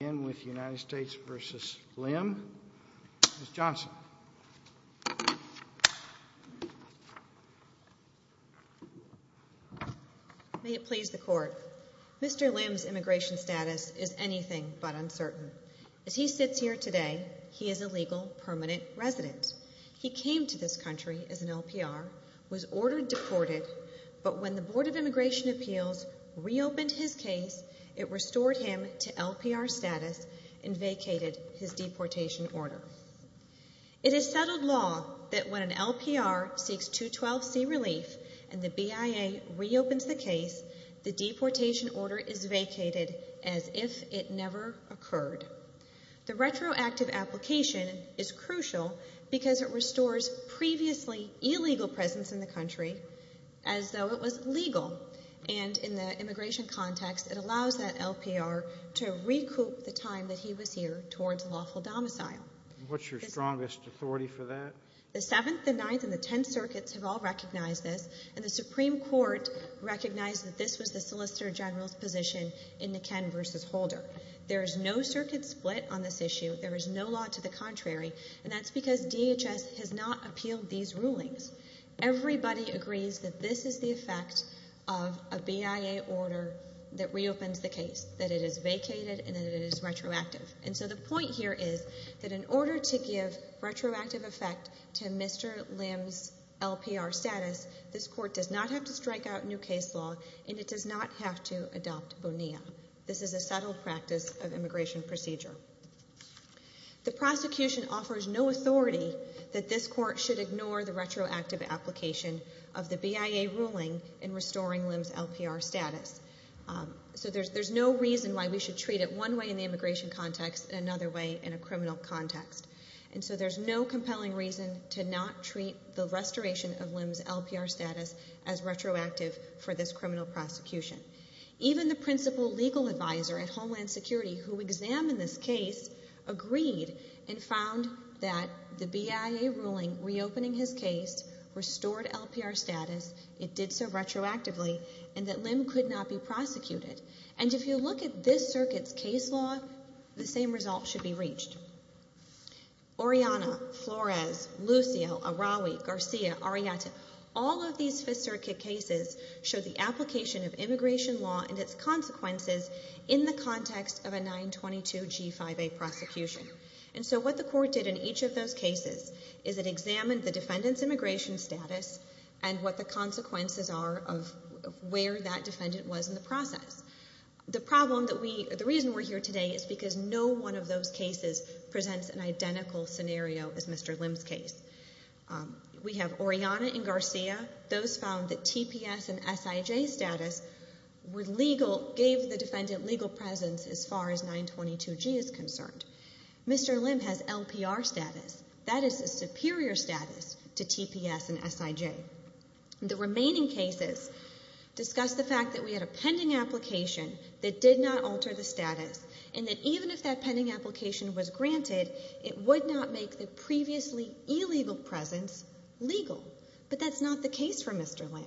Mr. Lim's immigration status is anything but uncertain. As he sits here today, he is a legal, permanent resident. He came to this country as an LPR, was ordered deported, but when the Board of Immigration Appeals re-opened his case, it restored him to LPR status. and vacated his deportation order. It is settled law that when an LPR seeks 212C relief and the BIA re-opens the case, the deportation order is vacated as if it never occurred. The retroactive application is crucial because it restores previously illegal presence in the country as though it was legal, and in the immigration context, it allows that LPR to recoup the time that he was here towards lawful domicile. The 7th, the 9th, and the 10th circuits have all recognized this, and the Supreme Court recognized that this was the Solicitor General's position in the Ken v. Holder. There is no circuit split on this issue. There is no law to the contrary, and that's because DHS has not appealed these rulings. Everybody agrees that this is the effect of a BIA order that re-opens the case. That it is vacated, and that it is retroactive. And so the point here is that in order to give retroactive effect to Mr. Lim's LPR status, this Court does not have to strike out new case law, and it does not have to adopt Bonilla. This is a subtle practice of immigration procedure. The prosecution offers no authority that this Court should ignore the retroactive application of the BIA ruling in restoring Lim's LPR status. So there's no reason why we should treat it one way in the immigration context and another way in a criminal context. And so there's no compelling reason to not treat the restoration of Lim's LPR status as retroactive for this criminal prosecution. Even the principal legal advisor at Homeland Security, who examined this case, agreed and found that the BIA ruling reopening his case restored LPR status. It did so retroactively, and that Lim could not be prosecuted. And if you look at this circuit's case law, the same result should be reached. Oriana, Flores, Lucio, Araui, Garcia, Arrieta, all of these Fifth Circuit cases show the application of immigration law and its consequences in the context of a 922 G5A prosecution. And so what the Court did in each of those cases is it examined the defendant's immigration status and what the consequences are of where that defendant was in the process. The reason we're here today is because no one of those cases presents an identical scenario as Mr. Lim's case. We have Oriana and Garcia. Those found that TPS and SIJ status gave the defendant legal presence as far as 922 G is concerned. Mr. Lim has LPR status. That is a superior status to TPS and SIJ. The remaining cases discuss the fact that we had a pending application that did not alter the status, and that even if that pending application was granted, it would not make the previously illegal presence legal. But that's not the case for Mr. Lim.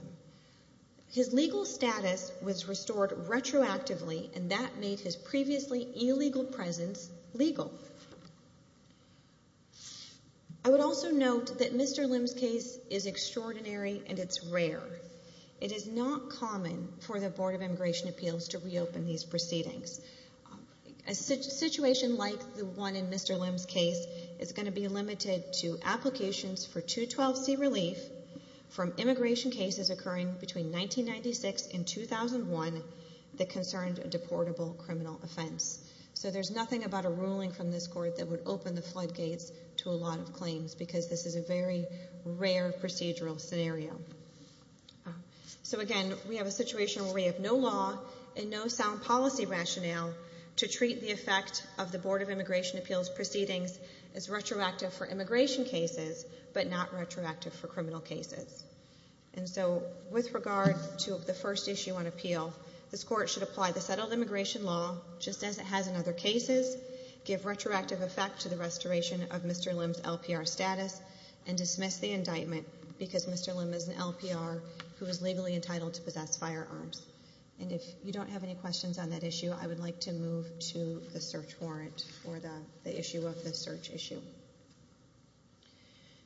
His legal status was restored retroactively, and that made his previously illegal presence legal. I would also note that Mr. Lim's case is extraordinary and it's rare. It is not common for the Board of Immigration Appeals to reopen these proceedings. A situation like the one in Mr. Lim's case is going to be limited to applications for 212C relief from immigration cases occurring between 1996 and 2001 that concerned a deportable criminal offense. So there's nothing about a ruling from this court that would open the floodgates to a lot of claims because this is a very rare procedural scenario. So again, we have a situation where we have no law and no sound policy rationale to treat the effect of the Board of Immigration Appeals proceedings as retroactive for immigration cases, but not retroactive for criminal cases. And so with regard to the first issue on appeal, this court should apply the settled immigration law, just as it has in other cases, give retroactive effect to the restoration of Mr. Lim's LPR status, and dismiss the indictment because Mr. Lim is an LPR who is legally entitled to possess firearms. And if you don't have any questions on that issue, I would like to move to the search warrant for the issue of the search issue.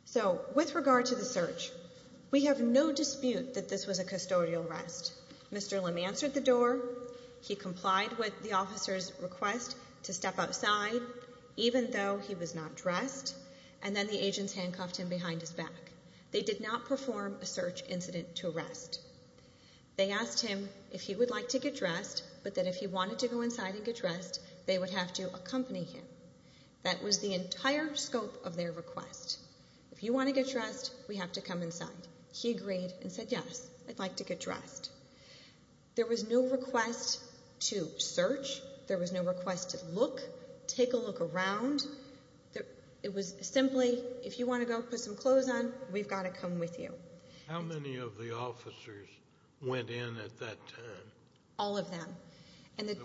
So with regard to the search, we have no dispute that this was a custodial arrest. Mr. Lim answered the door, he complied with the officer's request to step outside, even though he was not dressed, and then the agents handcuffed him behind his back. They did not perform a search incident to arrest. They asked him if he would like to get dressed, but that if he wanted to go inside and get dressed, they would have to accompany him. That was the entire scope of their request. If you want to get dressed, we have to come inside. He agreed and said yes, I'd like to get dressed. There was no request to search. There was no request to look, take a look around. It was simply, if you want to go put some clothes on, we've got to come with you. How many of the officers went in at that time? All of them.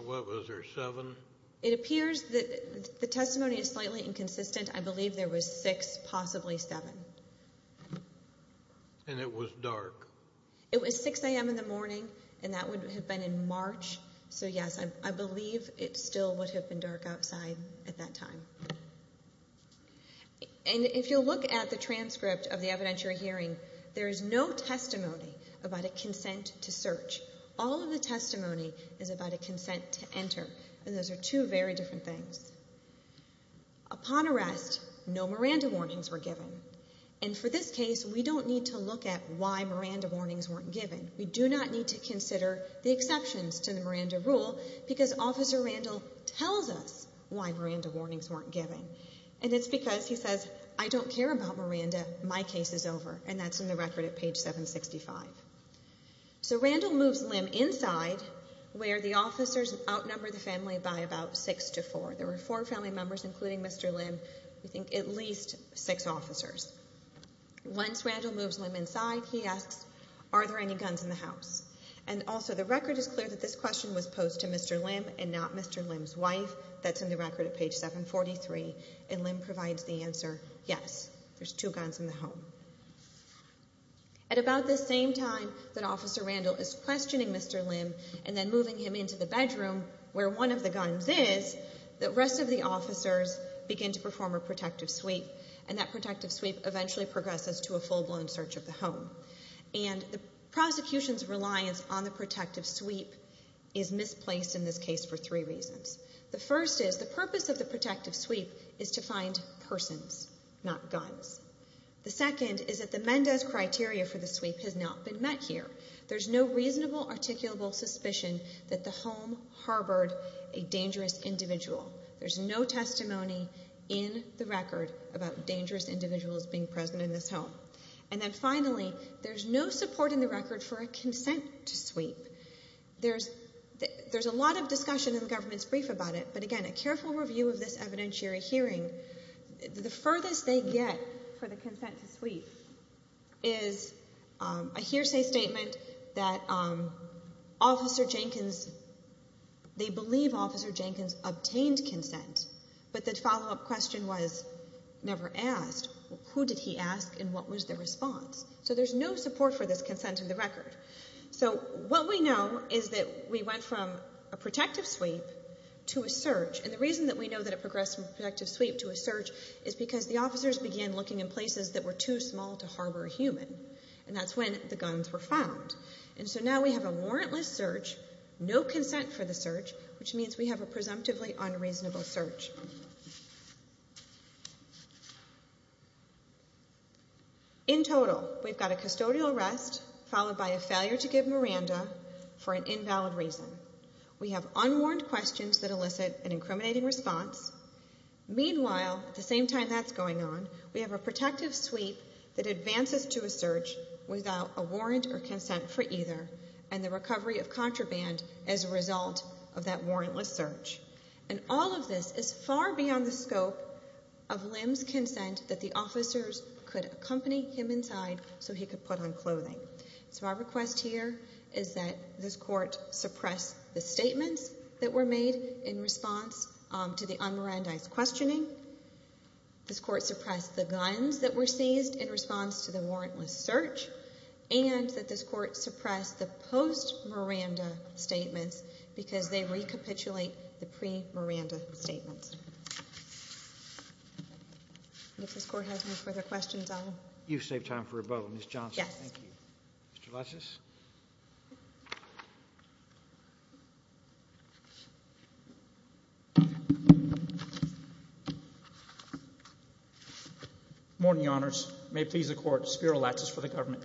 Was there seven? It appears that the testimony is slightly inconsistent. I believe there was six, possibly seven. And it was dark? It was 6 a.m. in the morning, and that would have been in March. So, yes, I believe it still would have been dark outside at that time. And if you'll look at the transcript of the evidence you're hearing, there is no testimony about a consent to search. All of the testimony is about a consent to enter, and those are two very different things. Upon arrest, no Miranda warnings were given. And for this case, we don't need to look at why Miranda warnings weren't given. We do not need to consider the exceptions to the Miranda rule because Officer Randall tells us why Miranda warnings weren't given, and it's because he says, I don't care about Miranda. My case is over, and that's in the record at page 765. So Randall moves Lim inside where the officers outnumber the family by about six to four. There were four family members, including Mr. Lim. We think at least six officers. Once Randall moves Lim inside, he asks, are there any guns in the house? And also the record is clear that this question was posed to Mr. Lim and not Mr. Lim's wife. That's in the record at page 743, and Lim provides the answer, yes, there's two guns in the home. At about the same time that Officer Randall is questioning Mr. Lim and then moving him into the bedroom where one of the guns is, the rest of the officers begin to perform a protective sweep, and that protective sweep eventually progresses to a full-blown search of the home. And the prosecution's reliance on the protective sweep is misplaced in this case for three reasons. The first is the purpose of the protective sweep is to find persons, not guns. The second is that the Mendes criteria for the sweep has not been met here. There's no reasonable articulable suspicion that the home harbored a dangerous individual. There's no testimony in the record about dangerous individuals being present in this home. And then finally, there's no support in the record for a consent to sweep. There's a lot of discussion in the government's brief about it, but again, a careful review of this evidentiary hearing, the furthest they get for the consent to sweep is a hearsay statement that they believe Officer Jenkins obtained consent, but the follow-up question was never asked. Who did he ask and what was the response? So there's no support for this consent in the record. So what we know is that we went from a protective sweep to a search, and the reason that we know that it progressed from a protective sweep to a search is because the officers began looking in places that were too small to harbor a human, and that's when the guns were found. And so now we have a warrantless search, no consent for the search, which means we have a presumptively unreasonable search. In total, we've got a custodial arrest followed by a failure to give Miranda for an invalid reason. We have unwarranted questions that elicit an incriminating response. Meanwhile, at the same time that's going on, we have a protective sweep that advances to a search without a warrant or consent for either, and the recovery of contraband as a result of that warrantless search. And all of this is far beyond the scope of Lim's consent that the officers could accompany him inside so he could put on clothing. So our request here is that this court suppress the statements that were made in response to the un-Mirandized questioning, this court suppress the guns that were seized in response to the warrantless search, and that this court suppress the post-Miranda statements because they recapitulate the pre-Miranda statements. And if this court has any further questions, I'll— Mr. Latsos. Good morning, Your Honors. May it please the Court, Spiro Latsos for the government.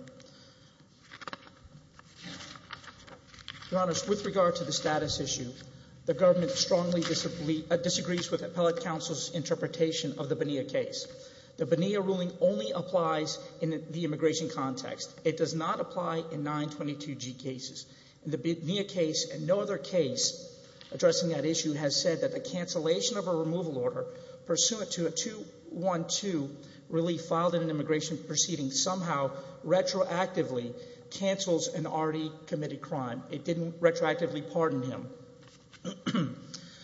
Your Honors, with regard to the status issue, the government strongly disagrees with appellate counsel's interpretation of the Bonilla case. The Bonilla ruling only applies in the immigration context. It does not apply in 922G cases. The Bonilla case and no other case addressing that issue has said that the cancellation of a removal order pursuant to a 212 relief filed in an immigration proceeding somehow retroactively cancels an already committed crime. It didn't retroactively pardon him.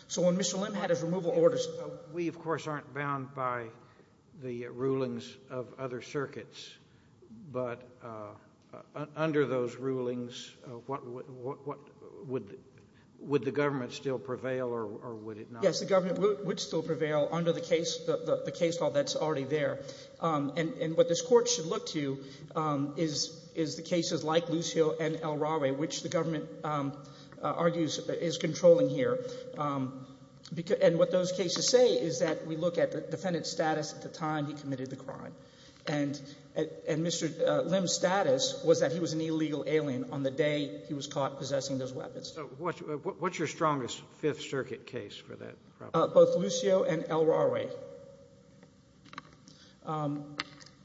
So when Mr. Lim had his removal orders— We, of course, aren't bound by the rulings of other circuits, but under those rulings, would the government still prevail or would it not? Yes, the government would still prevail under the case law that's already there. And what this court should look to is the cases like Loose Hill and El Rawe, which the government argues is controlling here. And what those cases say is that we look at the defendant's status at the time he committed the crime. And Mr. Lim's status was that he was an illegal alien on the day he was caught possessing those weapons. So what's your strongest Fifth Circuit case for that? Both Loose Hill and El Rawe.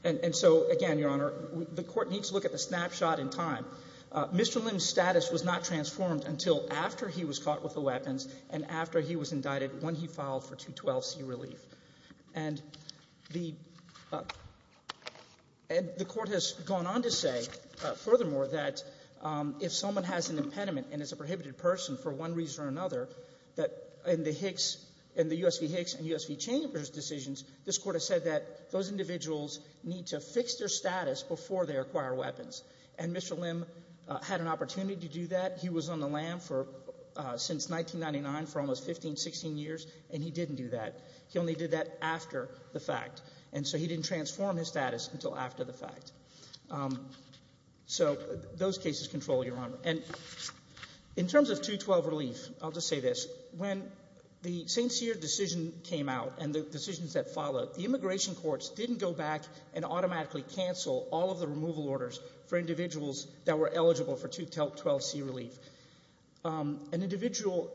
And so, again, Your Honor, the court needs to look at the snapshot in time. Mr. Lim's status was not transformed until after he was caught with the weapons and after he was indicted when he filed for 212C relief. And the court has gone on to say, furthermore, that if someone has an impediment and is a prohibited person for one reason or another, that in the Hicks — in the U.S. v. Hicks and U.S. v. Chambers decisions, this court has said that those individuals need to fix their status before they acquire weapons. And Mr. Lim had an opportunity to do that. He was on the lam for — since 1999 for almost 15, 16 years, and he didn't do that. He only did that after the fact. And so he didn't transform his status until after the fact. So those cases control, Your Honor. And in terms of 212 relief, I'll just say this. When the St. Cyr decision came out and the decisions that followed, the immigration courts didn't go back and automatically cancel all of the removal orders for individuals that were eligible for 212C relief. An individual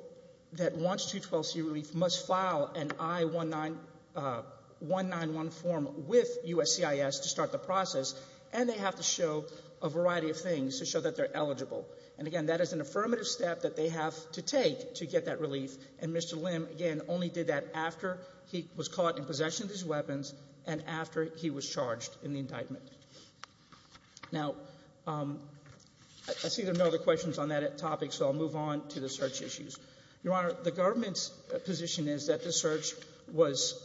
that wants 212C relief must file an I-191 form with USCIS to start the process, and they have to show a variety of things to show that they're eligible. And, again, that is an affirmative step that they have to take to get that relief. And Mr. Lim, again, only did that after he was caught in possession of his weapons and after he was charged in the indictment. Now, I see there are no other questions on that topic, so I'll move on to the search issues. Your Honor, the government's position is that this search was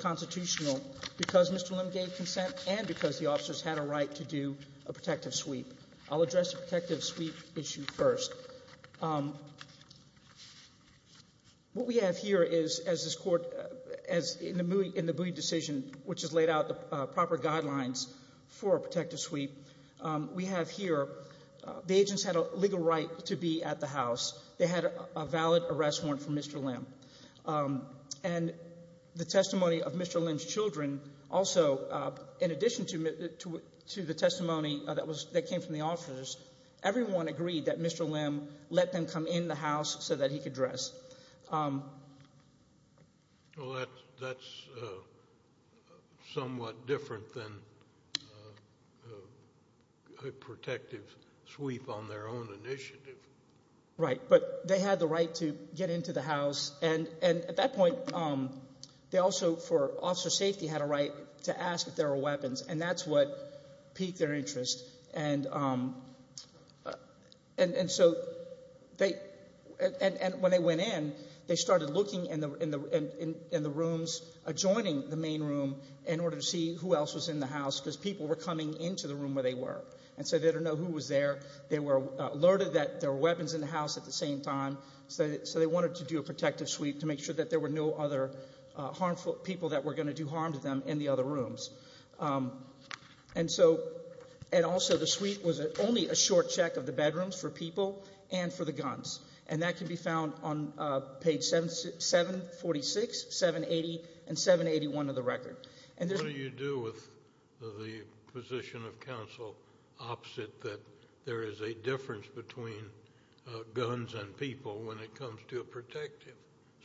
constitutional because Mr. Lim gave consent and because the officers had a right to do a protective sweep. I'll address the protective sweep issue first. What we have here is, as this court, in the Booy decision, which has laid out the proper guidelines for a protective sweep, we have here the agents had a legal right to be at the house. They had a valid arrest warrant from Mr. Lim. And the testimony of Mr. Lim's children also, in addition to the testimony that came from the officers, everyone agreed that Mr. Lim let them come in the house so that he could dress. Well, that's somewhat different than a protective sweep on their own initiative. Right, but they had the right to get into the house. And at that point, they also, for officer safety, had a right to ask if there were weapons, and that's what piqued their interest. And so when they went in, they started looking in the rooms adjoining the main room in order to see who else was in the house because people were coming into the room where they were. And so they didn't know who was there. They were alerted that there were weapons in the house at the same time, so they wanted to do a protective sweep to make sure that there were no other harmful people that were going to do harm to them in the other rooms. And also the sweep was only a short check of the bedrooms for people and for the guns. And that can be found on page 746, 780, and 781 of the record. What do you do with the position of counsel opposite that there is a difference between guns and people when it comes to a protective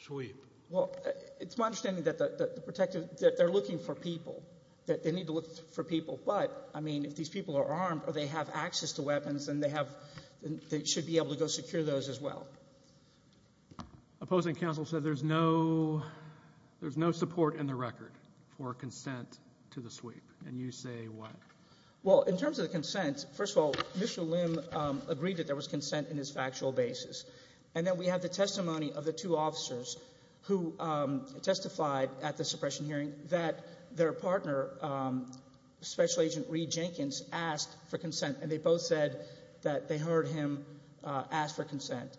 sweep? Well, it's my understanding that they're looking for people, that they need to look for people. But, I mean, if these people are armed or they have access to weapons, then they should be able to go secure those as well. Opposing counsel said there's no support in the record for consent to the sweep. And you say what? Well, in terms of the consent, first of all, Mr. Lim agreed that there was consent in his factual basis. And then we have the testimony of the two officers who testified at the suppression hearing that their partner, Special Agent Reed Jenkins, asked for consent, and they both said that they heard him ask for consent.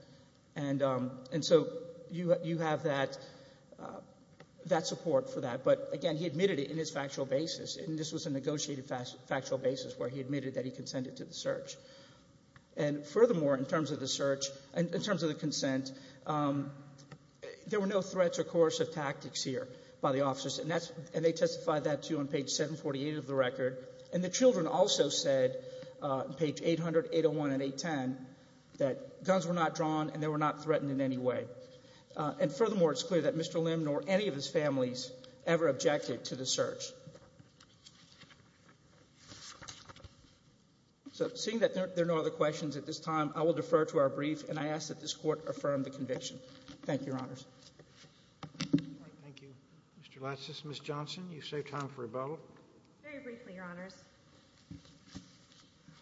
And so you have that support for that. But, again, he admitted it in his factual basis, and this was a negotiated factual basis where he admitted that he consented to the search. And, furthermore, in terms of the search, in terms of the consent, there were no threats or coercive tactics here by the officers, and they testified that too on page 748 of the record. And the children also said, page 800, 801, and 810, that guns were not drawn and they were not threatened in any way. And, furthermore, it's clear that Mr. Lim nor any of his families ever objected to the search. So, seeing that there are no other questions at this time, I will defer to our brief, and I ask that this Court affirm the conviction. Thank you, Your Honors. Thank you, Mr. Latsos. Ms. Johnson, you've saved time for a vote. Very briefly, Your Honors.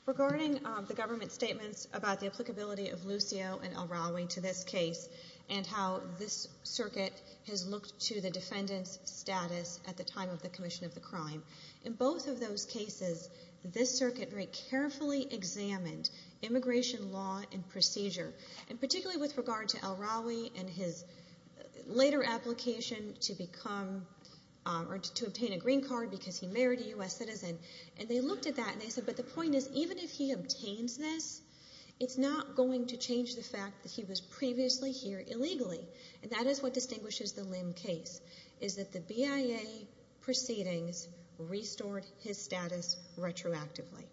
Regarding the government statements about the applicability of Lucio and El-Rawi to this case and how this circuit has looked to the defendant's status at the time of the commission of the crime, in both of those cases, this circuit very carefully examined immigration law and procedure, and particularly with regard to El-Rawi and his later application to become or to obtain a green card because he married a U.S. citizen. And they looked at that and they said, but the point is, even if he obtains this, it's not going to change the fact that he was previously here illegally, and that is what distinguishes the Lim case, is that the BIA proceedings restored his status retroactively.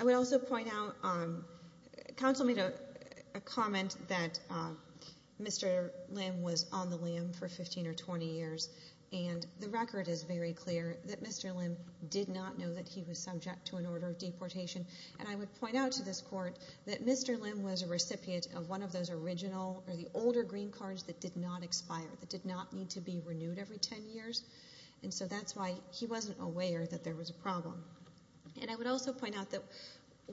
I would also point out, counsel made a comment that Mr. Lim was on the limb for 15 or 20 years, and the record is very clear that Mr. Lim did not know that he was subject to an order of deportation. And I would point out to this court that Mr. Lim was a recipient of one of those original or the older green cards that did not expire, that did not need to be renewed every 10 years, and so that's why he wasn't aware that there was a problem. And I would also point out that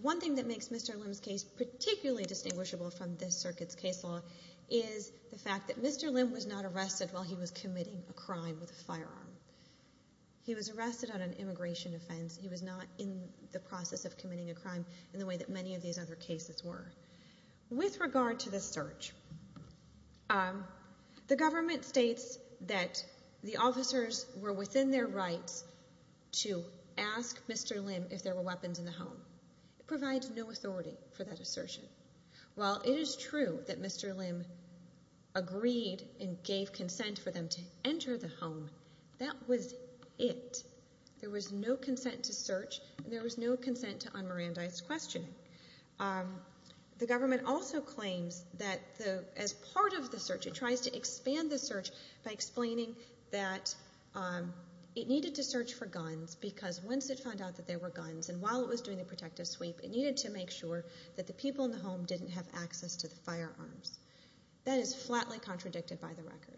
one thing that makes Mr. Lim's case particularly distinguishable from this circuit's case law is the fact that Mr. Lim was not arrested while he was committing a crime with a firearm. He was arrested on an immigration offense. He was not in the process of committing a crime in the way that many of these other cases were. With regard to the search, the government states that the officers were within their rights to ask Mr. Lim if there were weapons in the home. It provides no authority for that assertion. While it is true that Mr. Lim agreed and gave consent for them to enter the home, that was it. There was no consent to search, and there was no consent to un-Mirandize questioning. The government also claims that as part of the search, it tries to expand the search by explaining that it needed to search for guns because once it found out that there were guns and while it was doing the protective sweep, it needed to make sure that the people in the home didn't have access to the firearms. That is flatly contradicted by the record.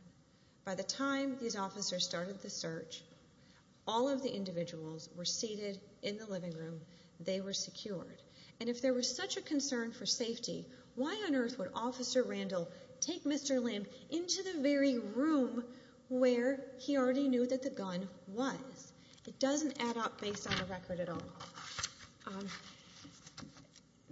By the time these officers started the search, all of the individuals were seated in the living room. They were secured. And if there was such a concern for safety, why on earth would Officer Randall take Mr. Lim into the very room where he already knew that the gun was? It doesn't add up based on the record at all.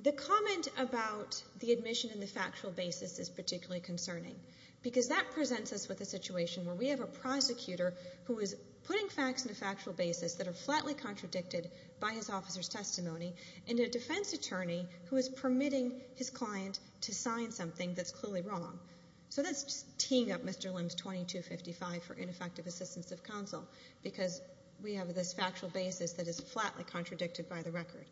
The comment about the admission in the factual basis is particularly concerning because that presents us with a situation where we have a prosecutor who is putting facts in a factual basis that are flatly contradicted by his officer's testimony and a defense attorney who is permitting his client to sign something that's clearly wrong. So that's teeing up Mr. Lim's 2255 for ineffective assistance of counsel because we have this factual basis that is flatly contradicted by the record.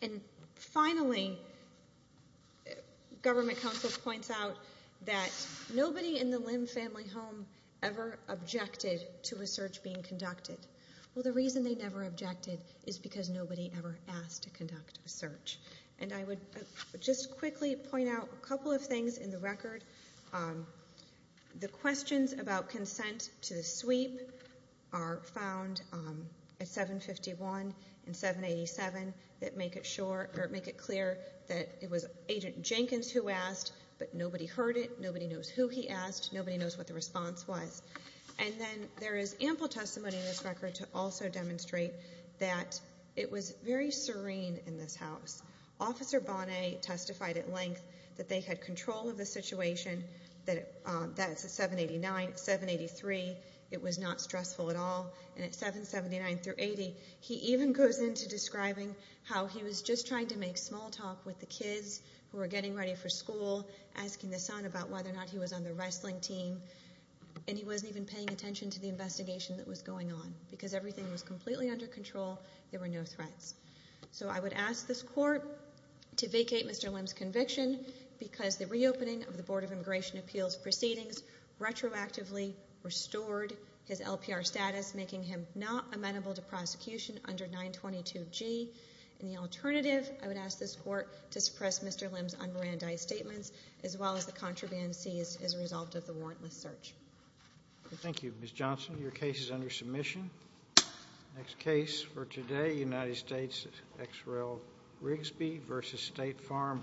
And finally, government counsel points out that nobody in the Lim family home ever objected to a search being conducted. Well, the reason they never objected is because nobody ever asked to conduct a search. And I would just quickly point out a couple of things in the record. The questions about consent to the sweep are found at 751 and 787 that make it clear that it was Agent Jenkins who asked, but nobody heard it, nobody knows who he asked, nobody knows what the response was. And then there is ample testimony in this record to also demonstrate Officer Bonnet testified at length that they had control of the situation. That's at 783. It was not stressful at all. And at 779-80, he even goes into describing how he was just trying to make small talk with the kids who were getting ready for school, asking the son about whether or not he was on the wrestling team, and he wasn't even paying attention to the investigation that was going on because everything was completely under control. There were no threats. So I would ask this Court to vacate Mr. Lim's conviction because the reopening of the Board of Immigration Appeals proceedings retroactively restored his LPR status, making him not amenable to prosecution under 922G. And the alternative, I would ask this Court to suppress Mr. Lim's unbrandized statements as well as the contraband seized as a result of the warrantless search. Thank you, Ms. Johnson. Your case is under submission. Next case for today, United States, XREL-Rigsby v. State Farm Fire Department.